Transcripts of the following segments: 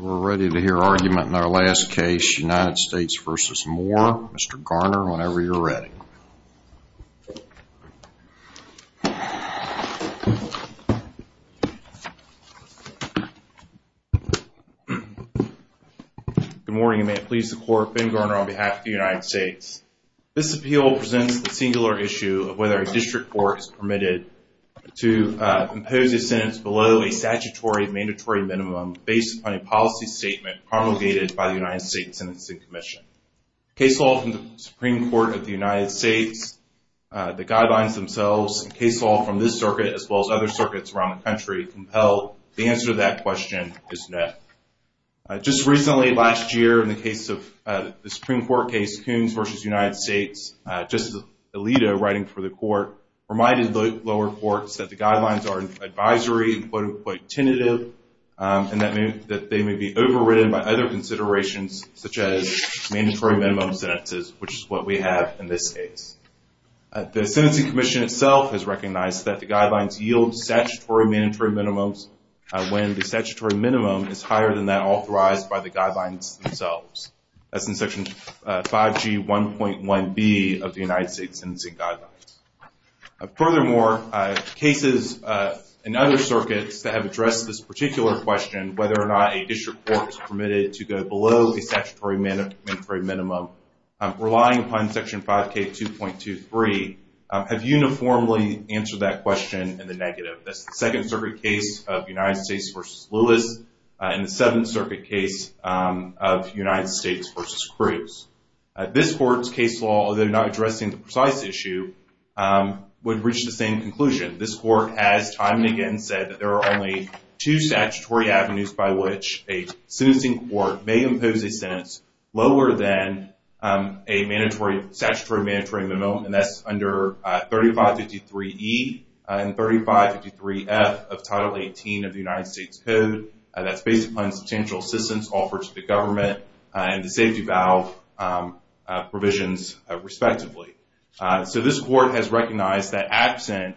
We're ready to hear argument in our last case, United States v. Moore. Mr. Garner, whenever you're ready. Good morning, and may it please the Court, Ben Garner on behalf of the United States. This appeal presents the singular issue of whether a district court is permitted to impose a sentence below a statutory mandatory minimum based on a policy statement promulgated by the United States Sentencing Commission. Case law from the Supreme Court of the United States, the guidelines themselves, and case law from this circuit as well as other circuits around the country compel the answer to that question is no. Just recently, last year, in the case of the Supreme Court case Coons v. United States, Justice Alito writing for the Court reminded lower courts that the guidelines are advisory and quote-unquote tentative and that they may be overridden by other considerations such as mandatory minimum sentences, which is what we have in this case. The Sentencing Commission itself has recognized that the guidelines yield statutory mandatory minimums when the statutory minimum is higher than that authorized by the guidelines themselves. That's in Section 5G 1.1b of the United States Sentencing Guidelines. Furthermore, cases in other circuits that have addressed this particular question, whether or not a district court is permitted to go below a statutory mandatory minimum, relying upon Section 5K 2.23, have uniformly answered that question in the negative. That's the Second Circuit case of United States v. Lewis and the Seventh Circuit case of United States v. Cruz. This court's case law, although not addressing the precise issue, would reach the same conclusion. This court has time and again said that there are only two statutory avenues by which a sentencing court may impose a sentence lower than a statutory mandatory minimum, and that's under 3553E and 3553F of Title 18 of the United States Code. That's based upon substantial assistance offered to the government and the safety valve provisions, respectively. So this court has recognized that absent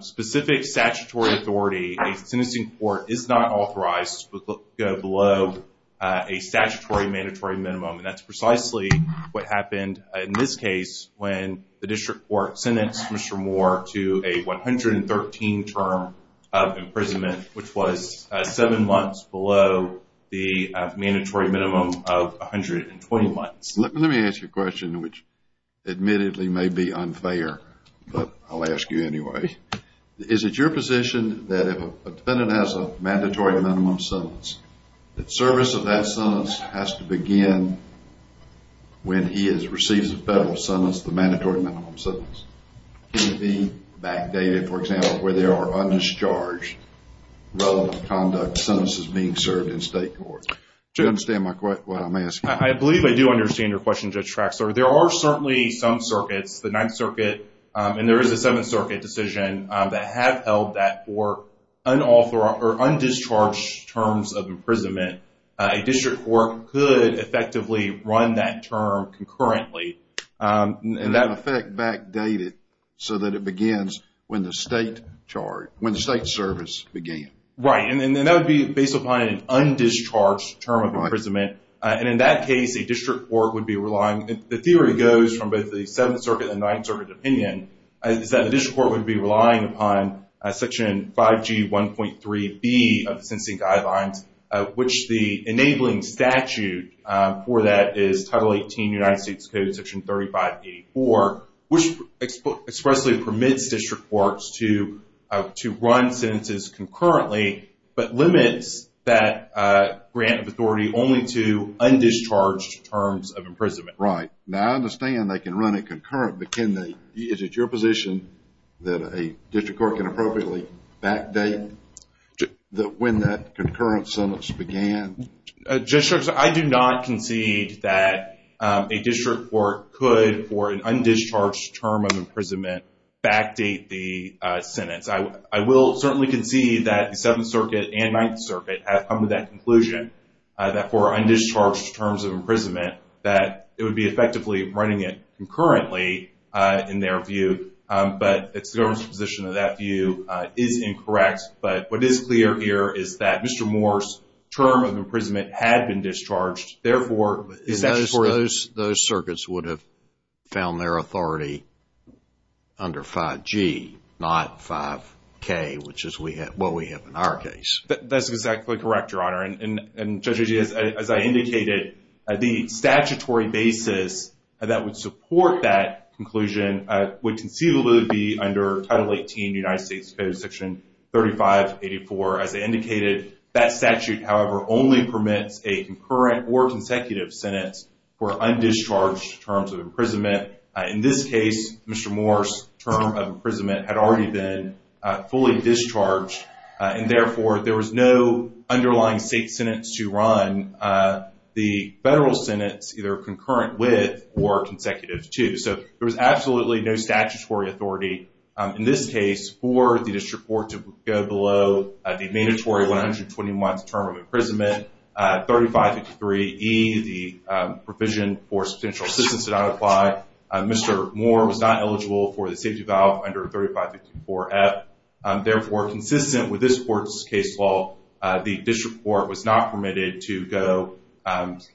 specific statutory authority, a sentencing court is not authorized to go below a statutory mandatory minimum, and that's precisely what happened in this case when the district court sentenced Mr. Moore to a 113 term of imprisonment, which was seven months below the mandatory minimum of 120 months. Let me ask you a question which admittedly may be unfair, but I'll ask you anyway. Is it your position that if a defendant has a mandatory minimum sentence that service of that sentence has to begin when he receives a federal sentence, the mandatory minimum sentence? Can it be backdated, for example, where there are undischarged relevant conduct sentences being served in state court? Do you understand what I'm asking? I believe I do understand your question, Judge Traxler. There are certainly some circuits, the Ninth Circuit, and there is a Seventh Circuit decision that have held that for undischarged terms of imprisonment, a district court could effectively run that term concurrently. And in effect backdate it so that it begins when the state service began. Right, and that would be based on an undischarged term of imprisonment. And in that case, a district court would be relying, the theory goes from both the Seventh Circuit and the Ninth Circuit opinion is that a district court would be relying upon Section 5G 1.3B of the Sentencing Guidelines, which the enabling statute for that is Title 18 United States Code Section 3584, which expressly permits district courts to run sentences concurrently but limits that grant of authority only to undischarged terms of imprisonment. Right, now I understand they can run it concurrent, but is it your position that a district court can appropriately backdate when that concurrent sentence began? Judge Traxler, I do not concede that a district court could for an undischarged term of imprisonment backdate the sentence. I will certainly concede that the Seventh Circuit and Ninth Circuit have come to that conclusion that for undischarged terms of imprisonment that it would be effectively running it concurrently in their view but it's the government's position that that view is incorrect, but what is clear here is that Mr. Moore's term of imprisonment had been discharged, therefore... Those circuits would have found their authority under 5G not 5K, which is what we have in our case. That's exactly correct, Your Honor, and Judge Agee, as I indicated the statutory basis that would support that conclusion would conceivably be under Title 18 United States Code Section 3584. As I indicated, that statute, however, only permits a concurrent or consecutive sentence for undischarged terms of imprisonment. In this case, Mr. Moore's term of imprisonment had already been fully discharged and therefore there was no underlying state sentence to run the federal sentence either concurrent with or consecutive to. So there was absolutely no statutory authority in this case for the district court to go below the mandatory 120-month term of imprisonment. 3553E, the provision for substantial assistance did not apply. Mr. Moore was not eligible for the safety valve under 3554F. Therefore, consistent with this court's case law, the district court was not permitted to go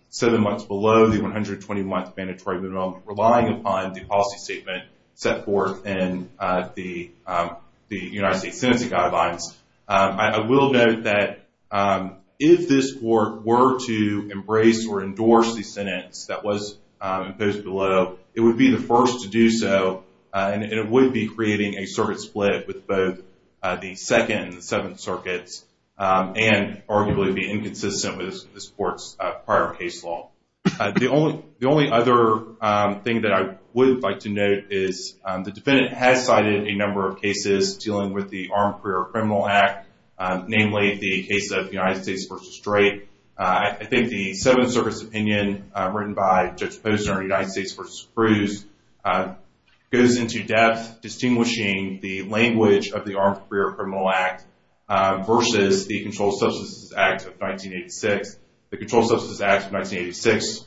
seven months below the 120-month mandatory minimum, relying upon the policy statement set forth in the United States Sentencing Guidelines. I will note that if this court were to embrace or endorse the sentence that was imposed below, it would be the first to do so and it would be creating a circuit split with both the Second and the Seventh Circuits and arguably be inconsistent with this court's prior case law. The only other thing that I would like to note is the defendant has cited a number of cases dealing with the Armed Career Criminal Act, namely the case of United States v. Drake. I think the argument by Judge Posner in United States v. Cruz goes into depth distinguishing the language of the Armed Career Criminal Act versus the Controlled Substances Act of 1986. The Controlled Substances Act of 1986,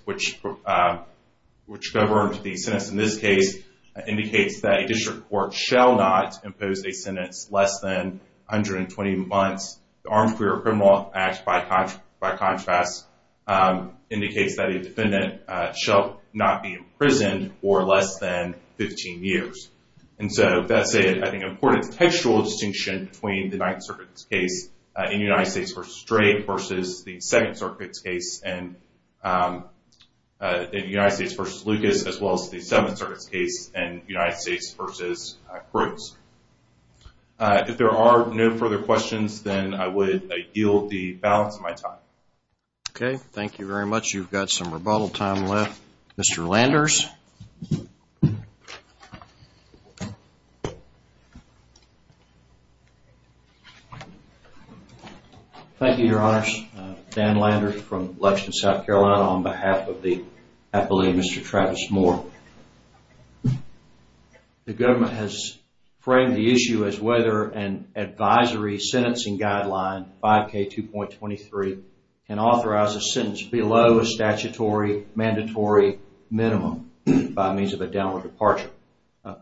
which governed the sentence in this case, indicates that a district court shall not impose a sentence less than 120 months. The Armed Career Criminal Act, by contrast, indicates that a defendant shall not be imprisoned for less than 15 years. That's an important textual distinction between the Ninth Circuit's case in United States v. Drake versus the Second Circuit's case in United States v. Lucas as well as the Seventh Circuit's case in United States v. Cruz. If there are no further questions, then I would yield the balance of my time. Okay. Thank you very much. You've got some rebuttal time left. Mr. Landers. Thank you, Your Honors. Dan Landers from Lexington, South Carolina on behalf of the Appellee, Mr. Travis Moore. The government has framed the issue as whether an advisory sentencing guideline, 5K2.23, can authorize a sentence below a statutory mandatory minimum by means of a downward departure.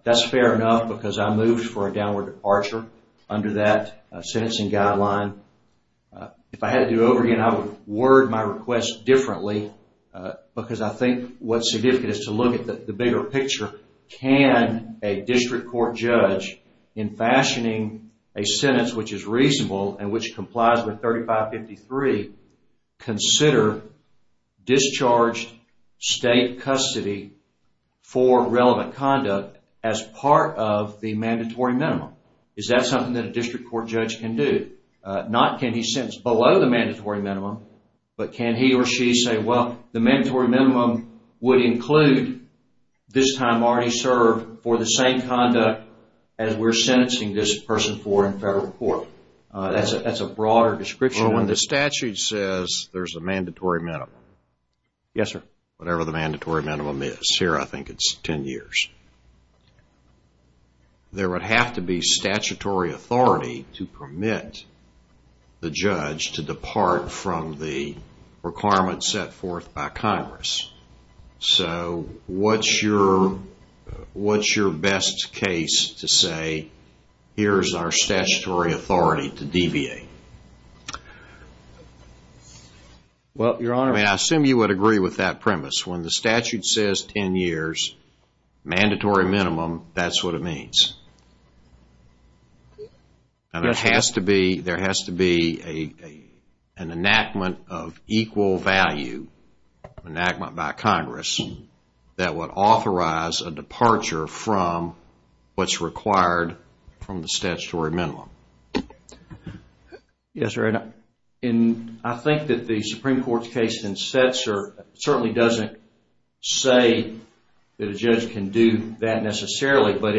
That's fair enough because I moved for a downward departure under that sentencing guideline. If I had to do it over again, I would word my request differently because I think what's significant is to look at the bigger picture. Can a district court judge, in fashioning a sentence which is reasonable and which complies with 3553, consider discharged state custody for relevant conduct as part of the mandatory minimum? Is that something that a district court judge can do? Not can he sentence below the mandatory minimum, but can he or she say, well, the mandatory minimum would include this time already served for the same conduct as we're sentencing this person for in federal court? That's a broader description. Well, when the statute says there's a mandatory minimum, whatever the mandatory minimum is, here I think it's 10 years, there would have to be statutory authority to permit the judge to depart from the requirements set forth by Congress. So, what's your best case to say, here's our statutory authority to deviate? I assume you would agree with that premise. When the statute says 10 years, mandatory minimum, that's what it means. There has to be an enactment of equal value, an enactment by Congress, that would what's required from the statutory minimum. I think that the Supreme Court's case in Setzer certainly doesn't say that a judge can do that necessarily, but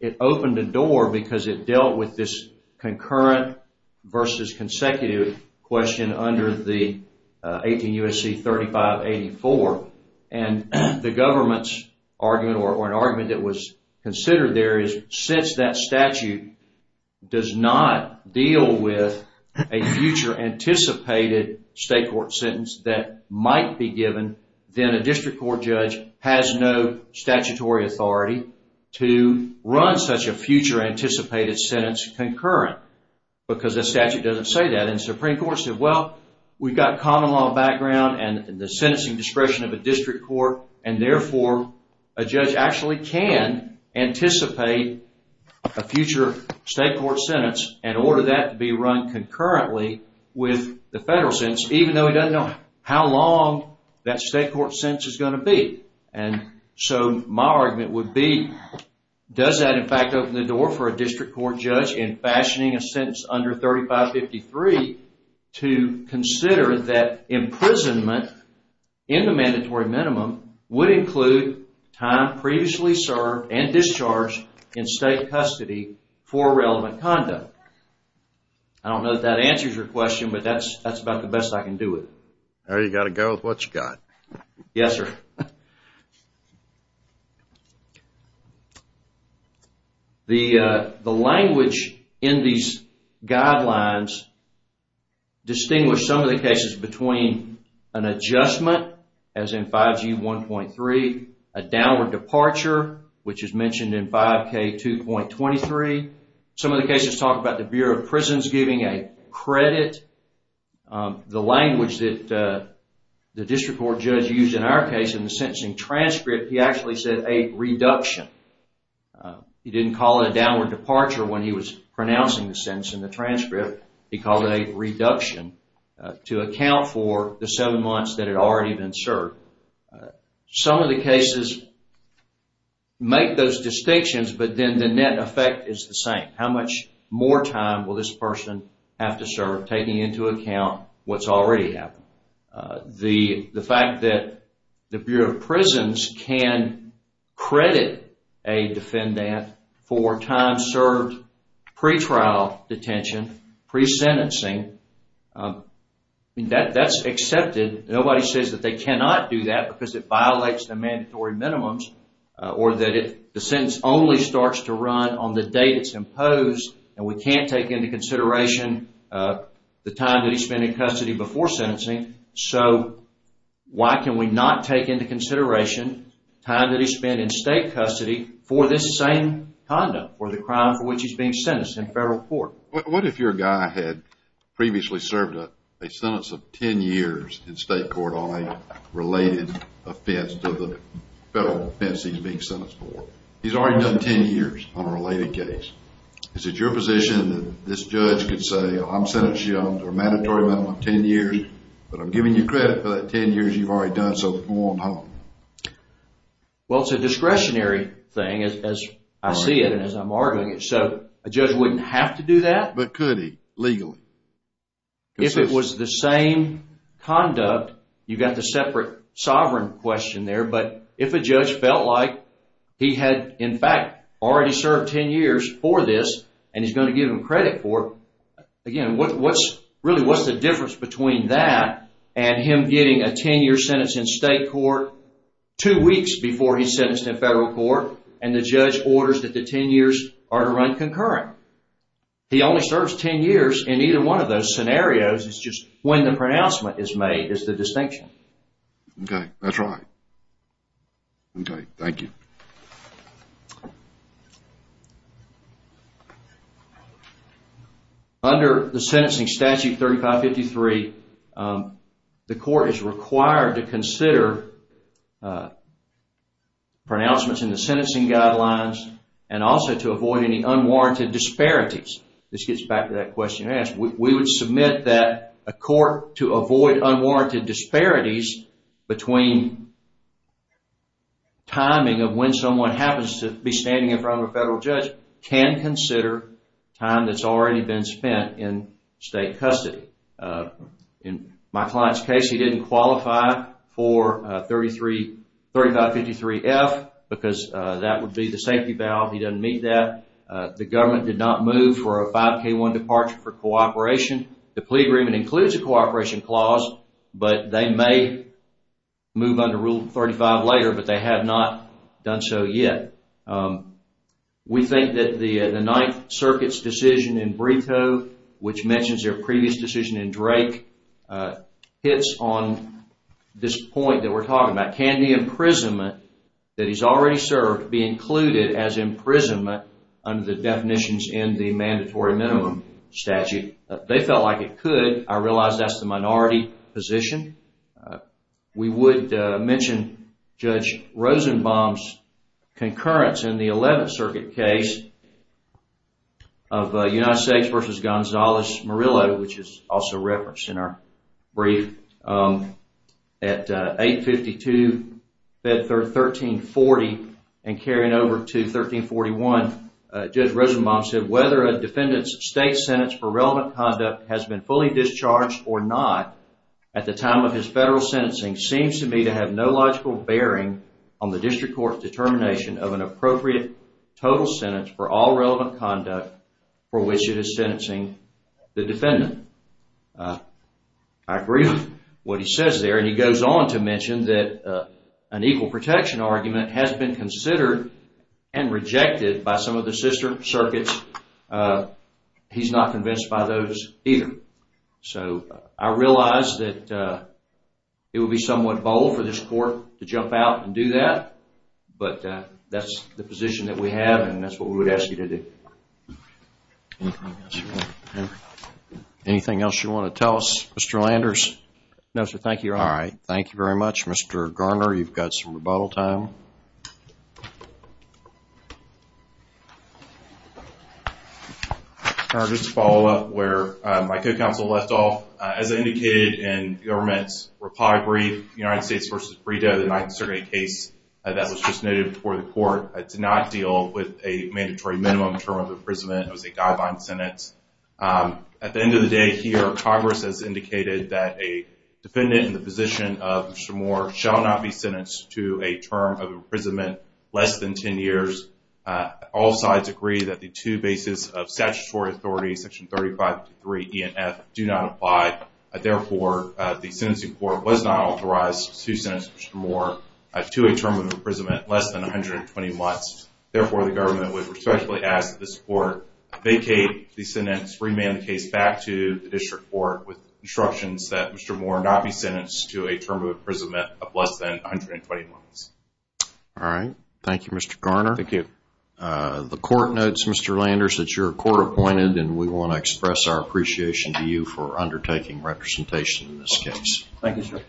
it opened a door because it dealt with this concurrent versus consecutive question under the 18 U.S.C. 3584, and the government's argument or an argument that was considered there is since that statute does not deal with a future anticipated state court sentence that might be given then a district court judge has no statutory authority to run such a future anticipated sentence concurrent, because the statute doesn't say that. And the Supreme Court said, well we've got common law background and the sentencing discretion of a district court and therefore a judge actually can anticipate a future state court sentence and order that to be run concurrently with the federal sentence, even though he doesn't know how long that state court sentence is going to be. So my argument would be, does that in fact open the door for a district court judge in fashioning a sentence under 3553 to consider that imprisonment in the mandatory minimum would include time previously served and discharged in state custody for relevant conduct. I don't know if that answers your question, but that's about the best I can do with it. Yes, sir. The language in these guidelines distinguish some of the adjustment, as in 5G 1.3, a downward departure which is mentioned in 5K 2.23 some of the cases talk about the Bureau of Prisons giving a credit the language that the district court judge used in our case in the sentencing transcript, he actually said a reduction. He didn't call it a downward departure when he was pronouncing the sentence in the transcript, he called it a reduction to account for the seven months that had already been served. Some of the cases make those distinctions, but then the net effect is the same. How much more time will this person have to serve, taking into account what's already happened. The fact that the Bureau of Prisons can credit a defendant for time served pretrial detention, pre-sentencing, that's accepted. Nobody says that they cannot do that because it violates the mandatory minimums, or that the sentence only starts to run on the date it's imposed, and we can't take into consideration the time that he spent in custody before sentencing, so why can we not take into consideration time that he spent in state custody for this same condom, for the crime for which he's being reported. What if your guy had previously served a sentence of 10 years in state court on a related offense to the federal offense he's being sentenced for? He's already done 10 years on a related case. Is it your position that this judge could say, I'm sentencing you on a mandatory minimum of 10 years, but I'm giving you credit for that 10 years you've already done, so come on home? Well, it's a discretionary thing, as I see it, and as I'm arguing it, so a judge wouldn't have to do that. But could he, legally? If it was the same conduct, you've got the separate sovereign question there, but if a judge felt like he had, in fact, already served 10 years for this, and he's going to give him credit for it, again, really, what's the difference between that and him getting a 10-year sentence in state court two weeks before he's sentenced in federal court, and the court would run concurrent? He only serves 10 years in either one of those scenarios, it's just when the pronouncement is made is the distinction. Okay, that's right. Okay, thank you. Under the sentencing statute 3553, the court is required to consider pronouncements in the sentencing guidelines and also to avoid any unwarranted disparities. This gets back to that question you asked. We would submit that a court to avoid unwarranted disparities between timing of when someone happens to be standing in front of a federal judge can consider time that's already been spent in state custody. In my client's case, he didn't qualify for 3553F because that would be the safety valve. He doesn't meet that. The government did not move for a 5K1 departure for cooperation. The plea agreement includes a cooperation clause, but they may move under Rule 35 later, but they have not done so yet. We think that the Ninth Circuit's decision in Brito, which mentions their previous decision in Drake, hits on this point that we're talking about. Can the imprisonment that he's already served be included as imprisonment under the definitions in the mandatory minimum statute? They felt like it could. I realize that's the minority position. We would mention Judge Rosenbaum's concurrence in the Eleventh Circuit case of United States v. Gonzalez Murillo, which is also referenced in our brief. At 852, 1340, and carrying over to 1341, Judge Rosenbaum said, I agree with what he says there. And he goes on to mention that an equal protection argument has been considered and rejected by some of the sister circuits. He's not convinced by those, either. I think you're right. I realize that it would be somewhat bold for this court to jump out and do that, but that's the position that we have, and that's what we would ask you to do. Anything else you want to tell us, Mr. Landers? No, sir. Thank you. Thank you very much, Mr. Garner. You've got some rebuttal time. Just to follow up where my co-counsel left off, as I indicated in the government's reply brief, United States v. Brito, the Ninth Circuit case that was just noted before the court, did not deal with a mandatory minimum term of imprisonment. It was a guideline sentence. At the end of the day here, Congress has indicated that a defendant in the position of Mr. Moore shall not be sentenced to a term of imprisonment less than 10 years. All sides agree that the two bases of statutory authority, Section 3553 E and F, do not apply. Therefore, the sentencing court was not authorized to sentence Mr. Moore to a term of imprisonment less than 120 months. Therefore, the government would respectfully ask that this court vacate the sentence, remand the case back to the district court with instructions that Mr. Moore not be sentenced to a term of imprisonment of less than 120 months. All right. Thank you, Mr. Garner. Thank you. The court notes, Mr. Landers, that you're court-appointed, and we want to express our appreciation to you for undertaking representation in this case. Thank you, sir.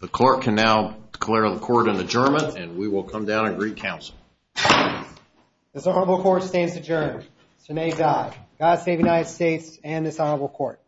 The court can now declare the court an adjournment, and we will come down and greet counsel. This honorable court stands adjourned. So nay, die. God save the United States and this honorable court.